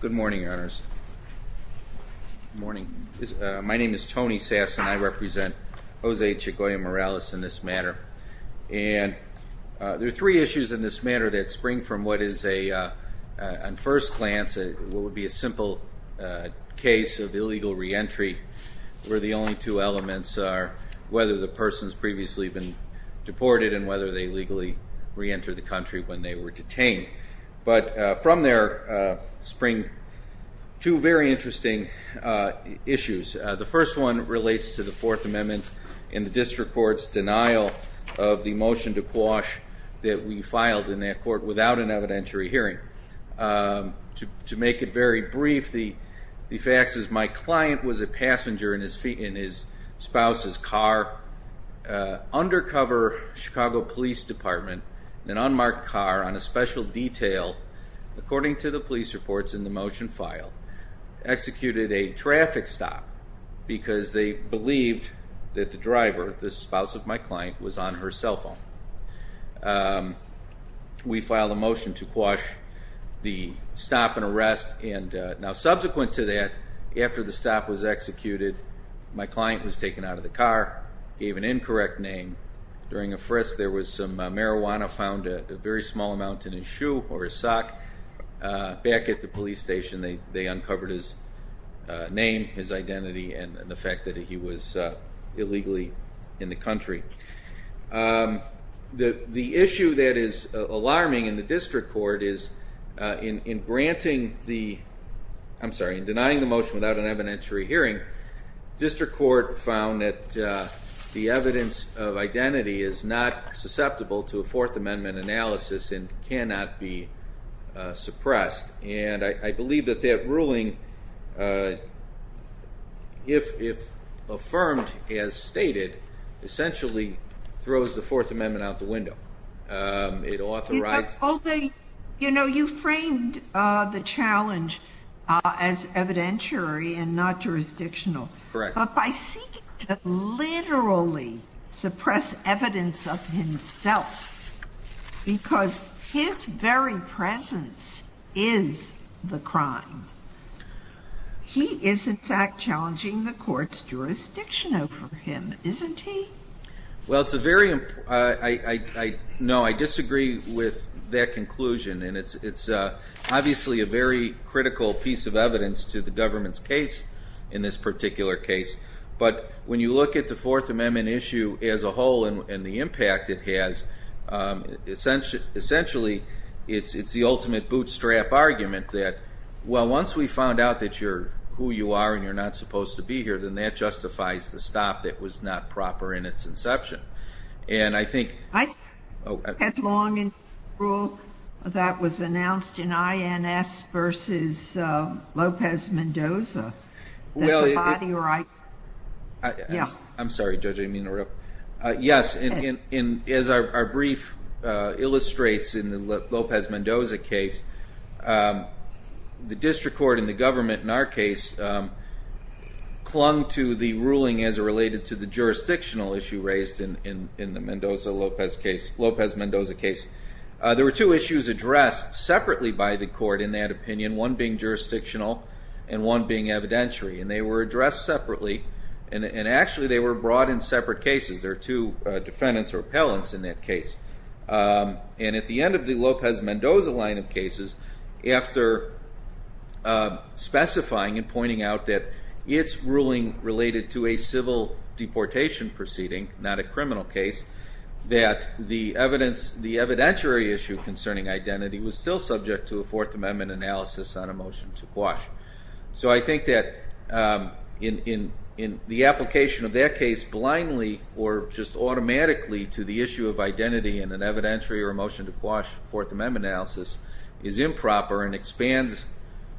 Good morning, Your Honors. My name is Tony Sasson. I represent Jose Chagoya-Morales in this matter, and there are three issues in this matter that spring from what is, at first glance, what would be a simple case of illegal re-entry, where the only two elements are whether the person's previously been deported and whether they legally re-entered the country when they were detained. But from there spring two very interesting issues. The first one relates to the Fourth Amendment and the district court's denial of the motion to quash that we filed in that court without an evidentiary hearing. To make it very brief, the facts is my client was a passenger in his spouse's car, undercover Chicago Police Department, in an unmarked car on a special detail, according to the police reports in the motion filed, executed a traffic stop because they believed that the driver, the spouse of my client, was on her cell phone. We filed a motion to quash the stop and arrest, and now subsequent to that, after the stop was executed, my client was taken out of the car, gave an incorrect name. During a frisk, there was some marijuana found a very small amount in his shoe or his sock. Back at the police station, they uncovered his name, his identity, and the fact that he was illegally in the country. The issue that is alarming in the district court is in denying the motion without an evidentiary hearing, the district court found that the evidence of identity is not susceptible to a Fourth Amendment analysis and cannot be suppressed. I believe that that ruling, if affirmed as stated, essentially throws the Fourth Amendment out the window. You know, you framed the challenge as evidentiary and not jurisdictional, but by seeking to literally suppress evidence of himself, because his very presence is the crime, he is in fact challenging the court's jurisdiction over him, isn't he? Well, I disagree with that conclusion, and it's obviously a very critical piece of evidence to the government's case in this particular case, but when you look at the Fourth Amendment issue as a whole and the impact it has, essentially, it's the ultimate bootstrap argument that, well, once we found out that you're who you are and you're not supposed to be here, then that justifies the stop that was not proper in its inception, and I think... I had long a rule that was announced in INS versus Lopez Mendoza. I'm sorry, Judge, I didn't mean to interrupt. Yes, as our brief illustrates in the Lopez Mendoza case, the district court and the government in our case clung to the ruling as it related to the jurisdictional issue raised in the Lopez Mendoza case. There were two issues addressed separately by the court in that opinion, one being jurisdictional and one being evidentiary, and they were addressed separately, and actually they were brought in separate cases. There are two defendants or appellants in that case. And at the end of the Lopez Mendoza line of cases, after specifying and pointing out that it's ruling related to a civil deportation proceeding, not a criminal case, that the evidentiary issue concerning identity was still subject to a Fourth Amendment analysis on a motion to quash. So I think that the application of that case blindly or just automatically to the issue of identity in an evidentiary or a motion to quash Fourth Amendment analysis is improper and expands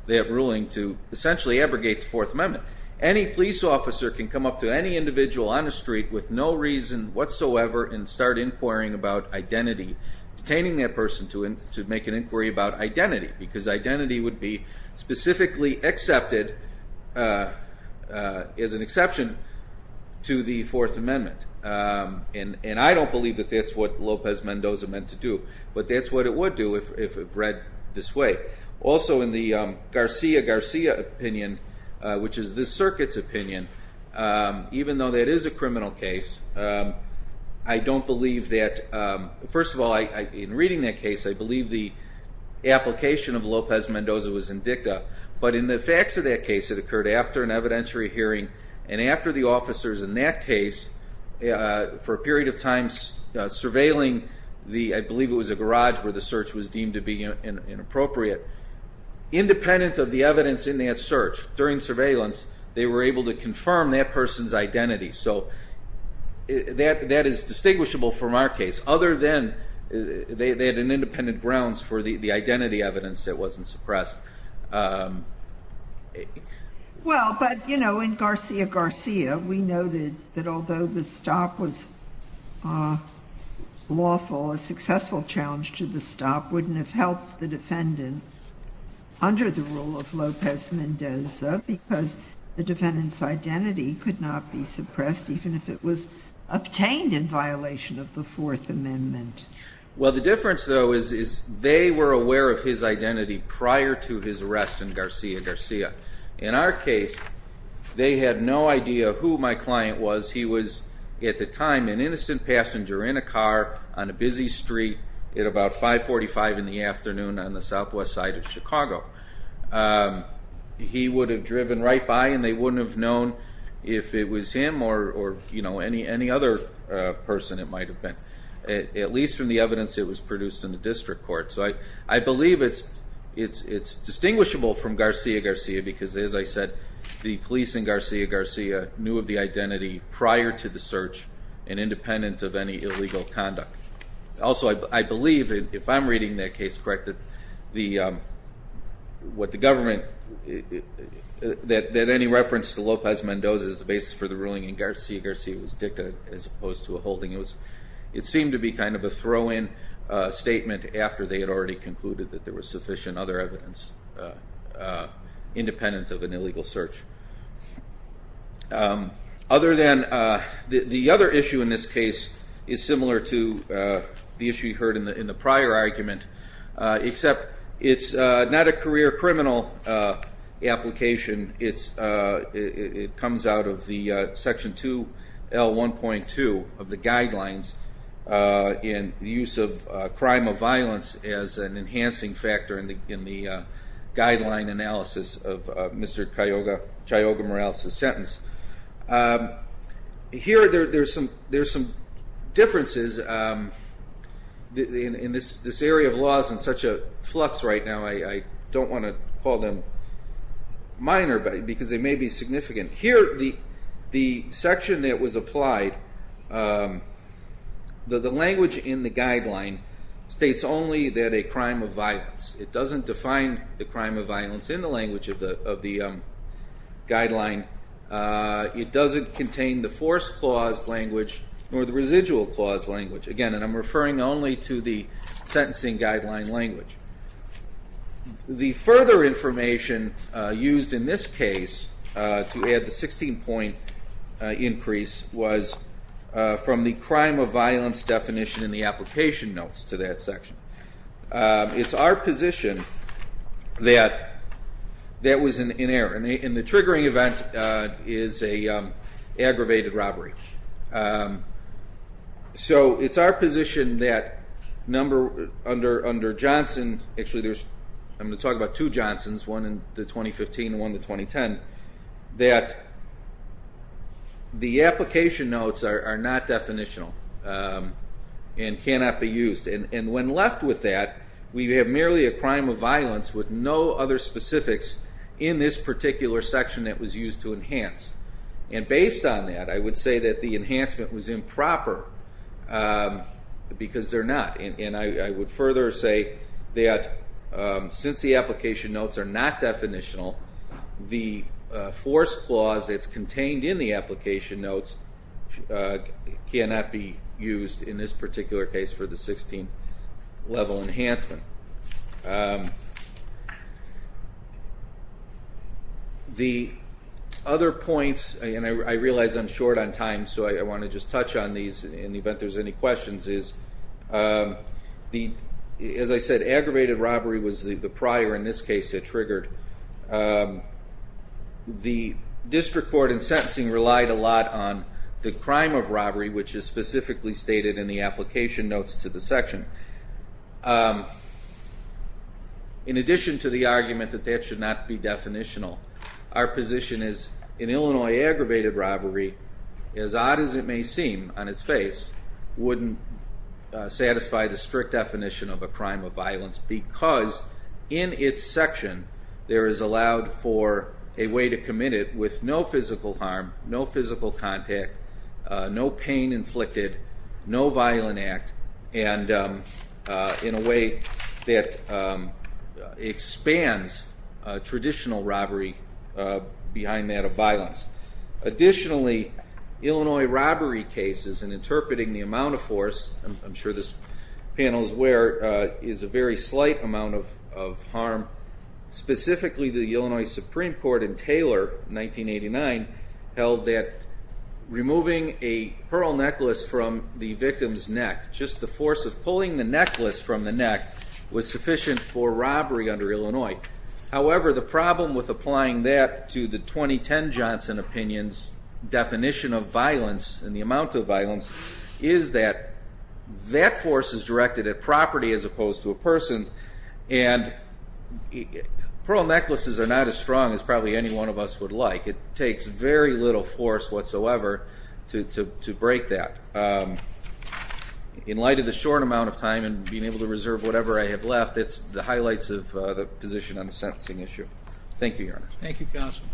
that ruling to essentially abrogate the Fourth Amendment. Any police officer can come up to any individual on the street with no reason whatsoever and start inquiring about identity, detaining that person to make an inquiry about identity, because identity would be specifically accepted as an exception to the Fourth Amendment. And I don't believe that that's what Lopez Mendoza meant to do, but that's what it would do if read this way. Also, in the Garcia-Garcia opinion, which is this circuit's opinion, even though that is a criminal case, I don't believe that, first of all, in reading that case, I believe the application of Lopez Mendoza was indicta. But in the facts of that case, it occurred after an evidentiary hearing and after the officers in that case, for a period of time, surveilling the, I believe it was a garage where the search was deemed to be inappropriate. Independent of the evidence in that search, during surveillance, they were able to confirm that person's identity. So that is distinguishable from our case, other than they had an independent grounds for the identity evidence that wasn't suppressed. Well, but, you know, in Garcia-Garcia, we noted that although the stop was lawful, a successful challenge to the stop wouldn't have helped the defendant under the rule of Lopez Mendoza, because the defendant's identity could not be suppressed, even if it was obtained in violation of the Fourth Amendment. Well, the difference, though, is they were aware of his identity prior to his arrest in Garcia-Garcia. In our case, they had no idea who my client was. He was, at the time, an innocent passenger in a car on a busy street at about 545 in the afternoon on the southwest side of Chicago. He would have driven right by and they wouldn't have known if it was him or, you know, any other person it might have been. At least from the evidence that was produced in the district court. So I believe it's distinguishable from Garcia-Garcia because, as I said, the police in Garcia-Garcia knew of the identity prior to the search and independent of any illegal conduct. Also, I believe, if I'm reading that case correct, that any reference to Lopez Mendoza as the basis for the ruling in Garcia-Garcia was dicta as opposed to a holding. It seemed to be kind of a throw-in statement after they had already concluded that there was sufficient other evidence independent of an illegal search. Other than the other issue in this case is similar to the issue you heard in the prior argument, except it's not a career criminal application. It comes out of the section 2L1.2 of the guidelines in the use of crime of violence as an enhancing factor in the guideline analysis of Mr. Chayoga-Morales' sentence. Here, there's some differences in this area of laws in such a flux right now. I don't want to call them minor because they may be significant. Here, the section that was applied, the language in the guideline states only that a crime of violence. It doesn't define the crime of violence in the language of the guideline. It doesn't contain the force clause language or the residual clause language. Again, I'm referring only to the sentencing guideline language. The further information used in this case to add the 16-point increase was from the crime of violence definition in the application notes to that section. It's our position that that was an error, and the triggering event is an aggravated robbery. It's our position that under Johnson, actually I'm going to talk about two Johnsons, one in 2015 and one in 2010, that the application notes are not definitional and cannot be used. When left with that, we have merely a crime of violence with no other specifics in this particular section that was used to enhance. Based on that, I would say that the enhancement was improper because they're not. I would further say that since the application notes are not definitional, the force clause that's contained in the application notes cannot be used in this particular case for the 16-level enhancement. The other points, and I realize I'm short on time, so I want to just touch on these in the event there's any questions. As I said, aggravated robbery was the prior in this case that triggered. The district court in sentencing relied a lot on the crime of robbery, which is specifically stated in the application notes to the section. In addition to the argument that that should not be definitional, our position is an Illinois aggravated robbery, as odd as it may seem on its face, wouldn't satisfy the strict definition of a crime of violence because in its section there is allowed for a way to commit it with no physical harm, no physical contact, no pain inflicted, no violent act, and in a way that expands traditional robbery behind that of violence. Additionally, Illinois robbery cases, and interpreting the amount of force, I'm sure this panel is aware, is a very slight amount of harm. Specifically, the Illinois Supreme Court in Taylor, 1989, held that removing a pearl necklace from the victim's neck, just the force of pulling the necklace from the neck, was sufficient for robbery under Illinois. However, the problem with applying that to the 2010 Johnson opinion's definition of violence and the amount of violence is that that force is directed at property as opposed to a person, and pearl necklaces are not as strong as probably any one of us would like. It takes very little force whatsoever to break that. In light of the short amount of time and being able to reserve whatever I have left, it's the highlights of the position on the sentencing issue. Thank you, Your Honor. Thank you, counsel.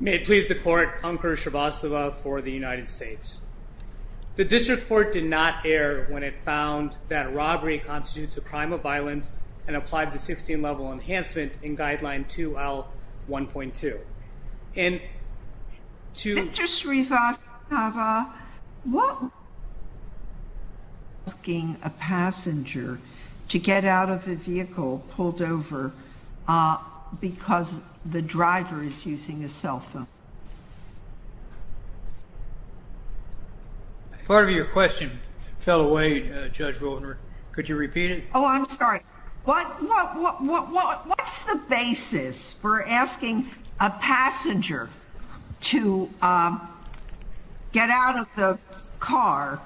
May it please the court. Ankur Srivastava for the United States. The district court did not err when it found that robbery constitutes a crime of violence and applied the 16-level enhancement in guideline 2L1.2. And to- Ankur Srivastava, what- Asking a passenger to get out of the vehicle pulled over because the driver is using a cell phone. Part of your question fell away, Judge Goldner. Could you repeat it? Oh, I'm sorry. What's the basis for asking a passenger to get out of the car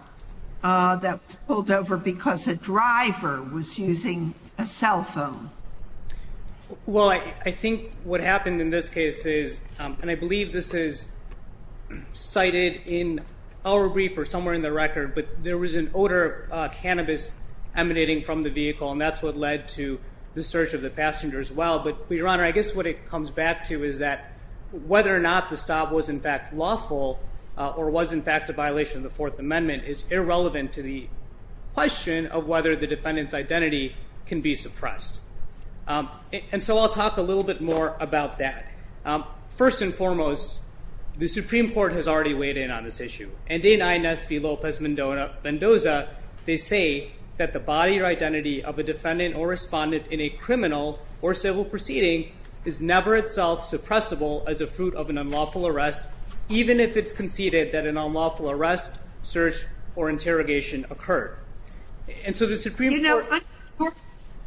that was pulled over because a driver was using a cell phone? Well, I think what happened in this case is, and I believe this is cited in our brief or somewhere in the record, but there was an odor of cannabis emanating from the vehicle, and that's what led to the search of the passenger as well. But, Your Honor, I guess what it comes back to is that whether or not the stop was in fact lawful or was in fact a violation of the Fourth Amendment is irrelevant to the question of whether the defendant's identity can be suppressed. And so I'll talk a little bit more about that. First and foremost, the Supreme Court has already weighed in on this issue. And in INS v. Lopez Mendoza, they say that the body or identity of a defendant or respondent in a criminal or civil proceeding is never itself suppressible as a fruit of an unlawful arrest, even if it's conceded that an unlawful arrest, search, or interrogation occurred. You know, I'm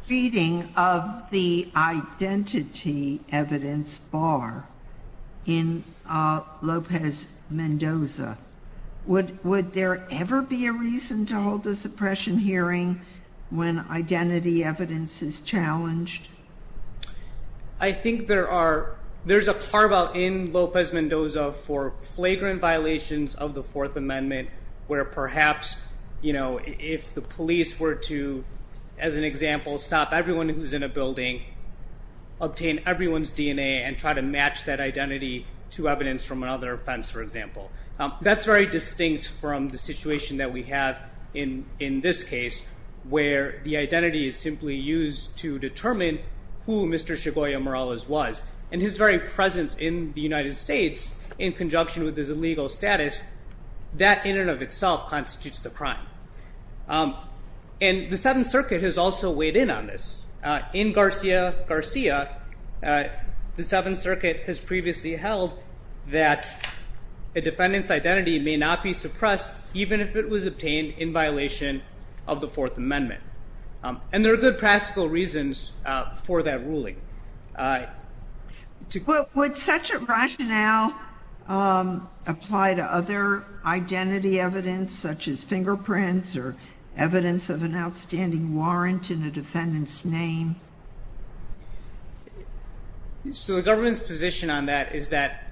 reading of the identity evidence bar in Lopez Mendoza. Would there ever be a reason to hold a suppression hearing when identity evidence is challenged? I think there's a carve-out in Lopez Mendoza for flagrant violations of the Fourth Amendment where perhaps, you know, if the police were to, as an example, stop everyone who's in a building, obtain everyone's DNA, and try to match that identity to evidence from another offense, for example. That's very distinct from the situation that we have in this case, where the identity is simply used to determine who Mr. Segovia Morales was. And his very presence in the United States in conjunction with his illegal status, that in and of itself constitutes the crime. And the Seventh Circuit has also weighed in on this. In Garcia Garcia, the Seventh Circuit has previously held that a defendant's identity may not be suppressed even if it was obtained in violation of the Fourth Amendment. And there are good practical reasons for that ruling. Would such a rationale apply to other identity evidence, such as fingerprints or evidence of an outstanding warrant in a defendant's name? So the government's position on that is that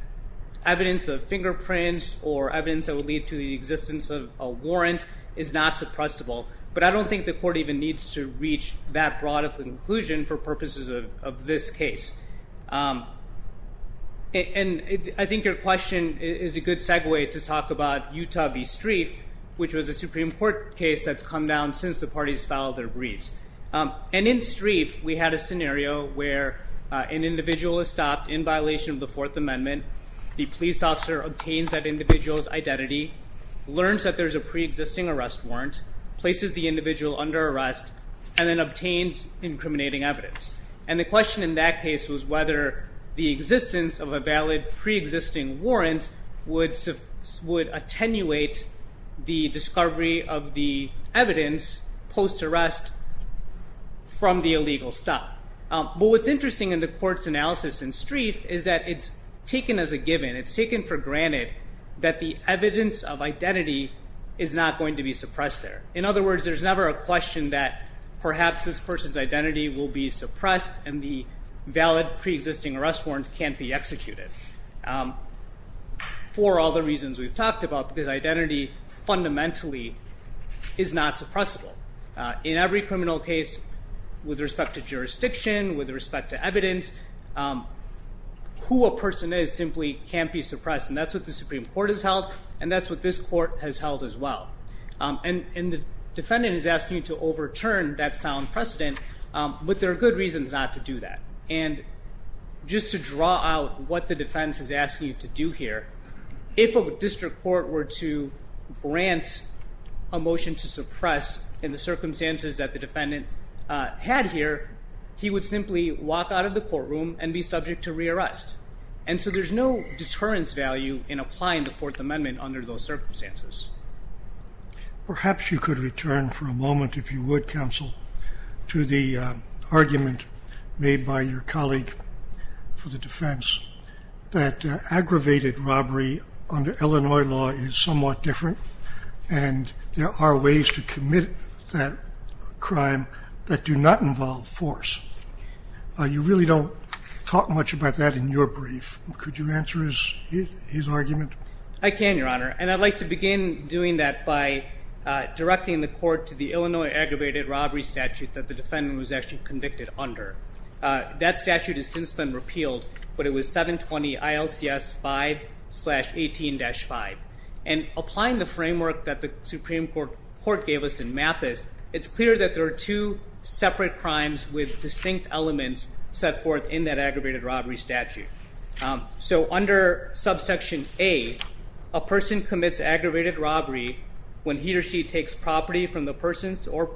evidence of fingerprints or evidence that would lead to the existence of a warrant is not suppressible. But I don't think the court even needs to reach that broad of a conclusion for purposes of this case. And I think your question is a good segue to talk about Utah v. Streiff, which was a Supreme Court case that's come down since the parties filed their briefs. And in Streiff, we had a scenario where an individual is stopped in violation of the Fourth Amendment. The police officer obtains that individual's identity, learns that there's a preexisting arrest warrant, places the individual under arrest, and then obtains incriminating evidence. And the question in that case was whether the existence of a valid preexisting warrant would attenuate the discovery of the evidence post-arrest from the illegal stop. But what's interesting in the court's analysis in Streiff is that it's taken as a given. It's taken for granted that the evidence of identity is not going to be suppressed there. In other words, there's never a question that perhaps this person's identity will be suppressed and the valid preexisting arrest warrant can't be executed for all the reasons we've talked about, because identity fundamentally is not suppressible. In every criminal case, with respect to jurisdiction, with respect to evidence, who a person is simply can't be suppressed, and that's what the Supreme Court has held, and that's what this court has held as well. And the defendant is asking you to overturn that sound precedent, but there are good reasons not to do that. And just to draw out what the defense is asking you to do here, if a district court were to grant a motion to suppress in the circumstances that the defendant had here, he would simply walk out of the courtroom and be subject to rearrest. And so there's no deterrence value in applying the Fourth Amendment under those circumstances. Perhaps you could return for a moment, if you would, Counsel, to the argument made by your colleague for the defense, that aggravated robbery under Illinois law is somewhat different and there are ways to commit that crime that do not involve force. You really don't talk much about that in your brief. Could you answer his argument? I can, Your Honor, and I'd like to begin doing that by directing the court to the Illinois aggravated robbery statute that the defendant was actually convicted under. That statute has since been repealed, but it was 720-ILCS-5-18-5. And applying the framework that the Supreme Court gave us in Mathis, it's clear that there are two separate crimes with distinct elements set forth in that aggravated robbery statute. So under subsection A, a person commits aggravated robbery when he or she takes property from the person or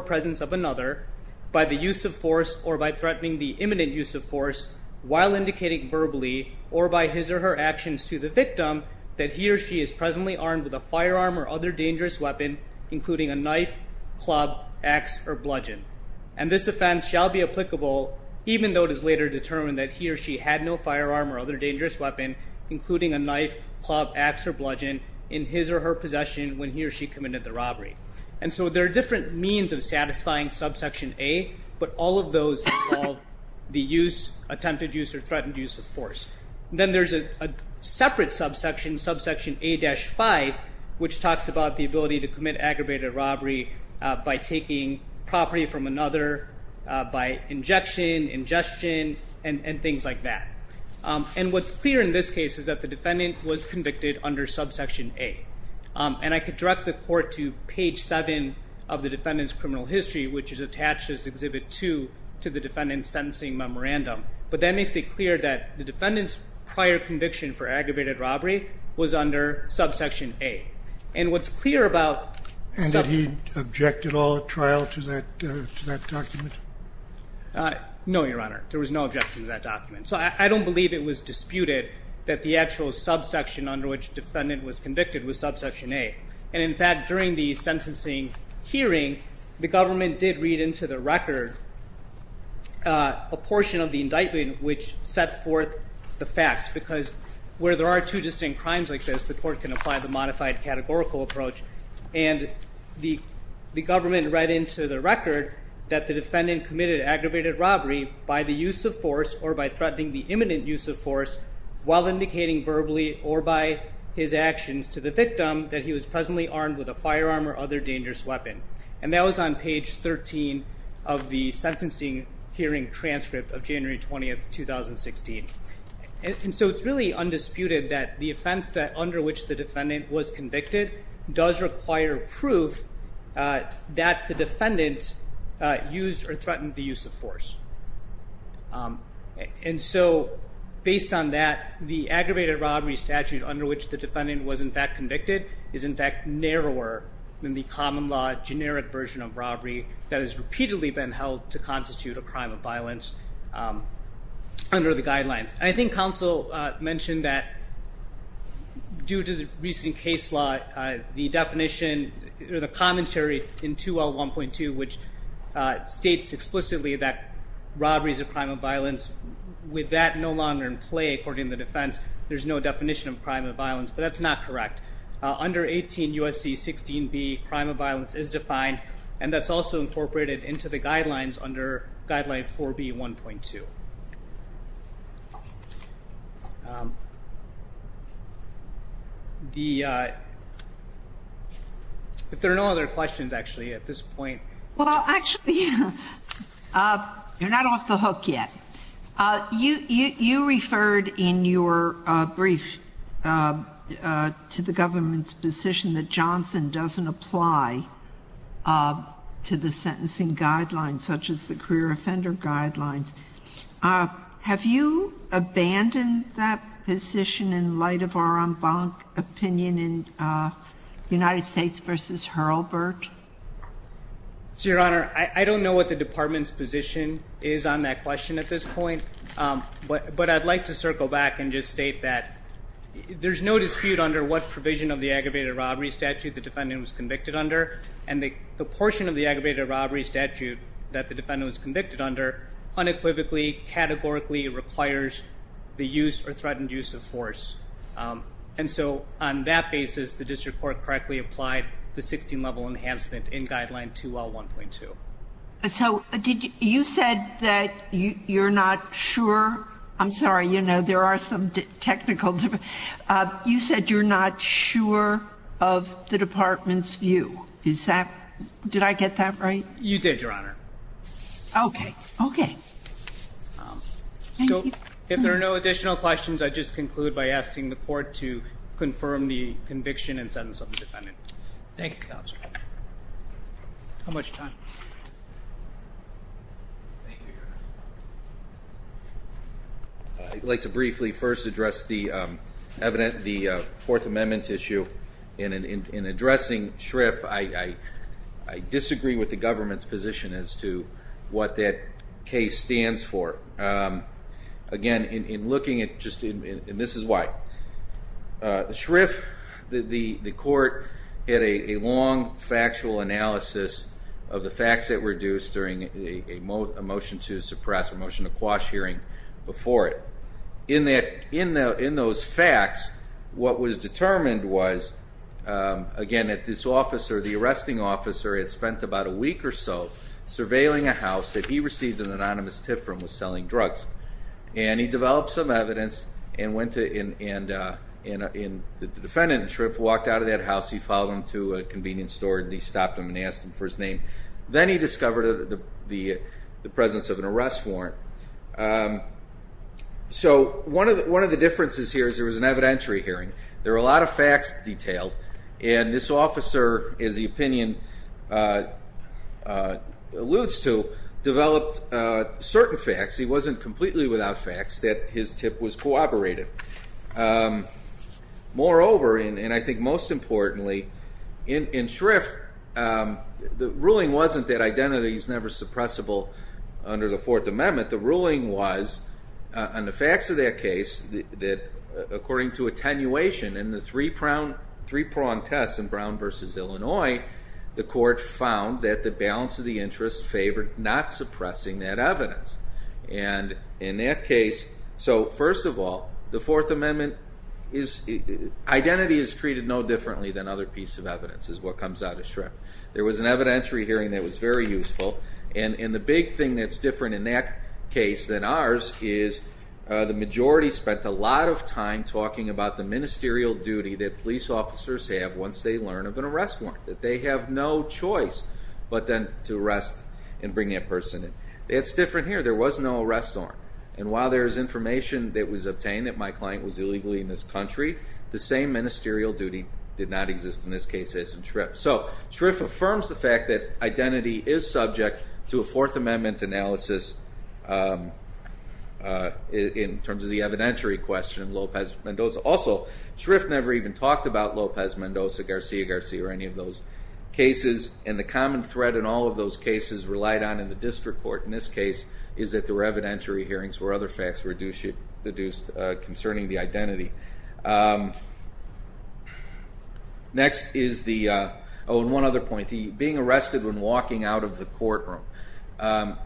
presence of another by the use of force or by threatening the imminent use of force while indicating verbally or by his or her actions to the victim that he or she is presently armed with a firearm or other dangerous weapon, including a knife, club, ax, or bludgeon. And this offense shall be applicable even though it is later determined that he or she had no firearm or other dangerous weapon, including a knife, club, ax, or bludgeon, in his or her possession when he or she committed the robbery. And so there are different means of satisfying subsection A, but all of those involve the use, attempted use, or threatened use of force. Then there's a separate subsection, subsection A-5, which talks about the ability to commit aggravated robbery by taking property from another, by injection, ingestion, and things like that. And what's clear in this case is that the defendant was convicted under subsection A. And I could direct the court to page 7 of the defendant's criminal history, which is attached as Exhibit 2 to the defendant's sentencing memorandum. But that makes it clear that the defendant's prior conviction for aggravated robbery was under subsection A. And what's clear about sub- And did he object at all at trial to that document? No, Your Honor. There was no objection to that document. So I don't believe it was disputed that the actual subsection under which the defendant was convicted was subsection A. And, in fact, during the sentencing hearing, the government did read into the record a portion of the indictment which set forth the facts, because where there are two distinct crimes like this, the court can apply the modified categorical approach. And the government read into the record that the defendant committed aggravated robbery while indicating verbally or by his actions to the victim that he was presently armed with a firearm or other dangerous weapon. And that was on page 13 of the sentencing hearing transcript of January 20, 2016. And so it's really undisputed that the offense under which the defendant was convicted does require proof that the defendant used or threatened the use of force. And so based on that, the aggravated robbery statute under which the defendant was, in fact, convicted is, in fact, narrower than the common law generic version of robbery that has repeatedly been held to constitute a crime of violence under the guidelines. I think counsel mentioned that due to the recent case law, the definition or the commentary in 2L1.2, which states explicitly that robberies are a crime of violence, with that no longer in play, according to the defense, there's no definition of crime of violence. But that's not correct. Under 18 U.S.C. 16B, crime of violence is defined, and that's also incorporated into the guidelines under guideline 4B1.2. If there are no other questions, actually, at this point. Well, actually, you're not off the hook yet. You referred in your brief to the government's position that Johnson doesn't apply to the sentencing guidelines, such as the career offender guidelines. Have you abandoned that position in light of our own opinion in United States v. Hurlburt? Your Honor, I don't know what the department's position is on that question at this point, but I'd like to circle back and just state that there's no dispute under what provision of the aggravated robbery statute the defendant was convicted under, and the portion of the aggravated robbery statute that the defendant was convicted under unequivocally, categorically requires the use or threatened use of force. And so on that basis, the district court correctly applied the 16-level enhancement in guideline 2L1.2. So you said that you're not sure. I'm sorry, you know, there are some technical differences. You said you're not sure of the department's view. Did I get that right? You did, Your Honor. Okay. Okay. Thank you. If there are no additional questions, I'd just conclude by asking the court to confirm the conviction and sentence of the defendant. Thank you, Counsel. How much time? Thank you, Your Honor. I'd like to briefly first address the Fourth Amendment issue. In addressing Schriff, I disagree with the government's position as to what that case stands for. Again, in looking at just, and this is why. Schriff, the court, had a long factual analysis of the facts that were due during a motion to suppress, a motion to quash hearing before it. In those facts, what was determined was, again, that this officer, the arresting officer, had spent about a week or so surveilling a house that he received an anonymous tip from was selling drugs. And he developed some evidence and the defendant, Schriff, walked out of that house. He followed him to a convenience store and he stopped him and asked him for his name. Then he discovered the presence of an arrest warrant. So one of the differences here is there was an evidentiary hearing. There were a lot of facts detailed. And this officer, as the opinion alludes to, developed certain facts. He wasn't completely without facts that his tip was corroborated. Moreover, and I think most importantly, in Schriff, the ruling wasn't that identity is never suppressible under the Fourth Amendment. The ruling was, on the facts of that case, that according to attenuation in the three-prong test in Brown v. Illinois, the court found that the balance of the interest favored not suppressing that evidence. And in that case, so first of all, the Fourth Amendment, identity is treated no differently than other pieces of evidence, is what comes out of Schriff. There was an evidentiary hearing that was very useful. And the big thing that's different in that case than ours is the majority spent a lot of time talking about the ministerial duty that police officers have once they learn of an arrest warrant, that they have no choice but then to arrest and bring that person in. That's different here. There was no arrest warrant. And while there is information that was obtained that my client was illegally in this country, the same ministerial duty did not exist in this case as in Schriff. So Schriff affirms the fact that identity is subject to a Fourth Amendment analysis in terms of the evidentiary question, Lopez-Mendoza. Also, Schriff never even talked about Lopez-Mendoza, Garcia-Garcia, or any of those cases. And the common thread in all of those cases relied on in the district court, in this case, is that there were evidentiary hearings where other facts were deduced concerning the identity. Next is the, oh, and one other point, being arrested when walking out of the courtroom.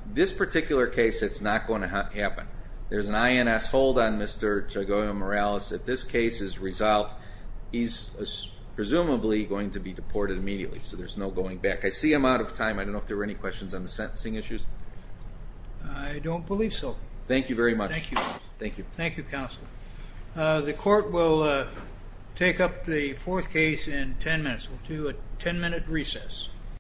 This particular case, it's not going to happen. There's an INS hold on Mr. Chegoya-Morales. If this case is resolved, he's presumably going to be deported immediately, so there's no going back. I see I'm out of time. I don't know if there were any questions on the sentencing issues. I don't believe so. Thank you very much. Thank you. Thank you. Thank you, counsel. The court will take up the fourth case in ten minutes. We'll do a ten-minute recess.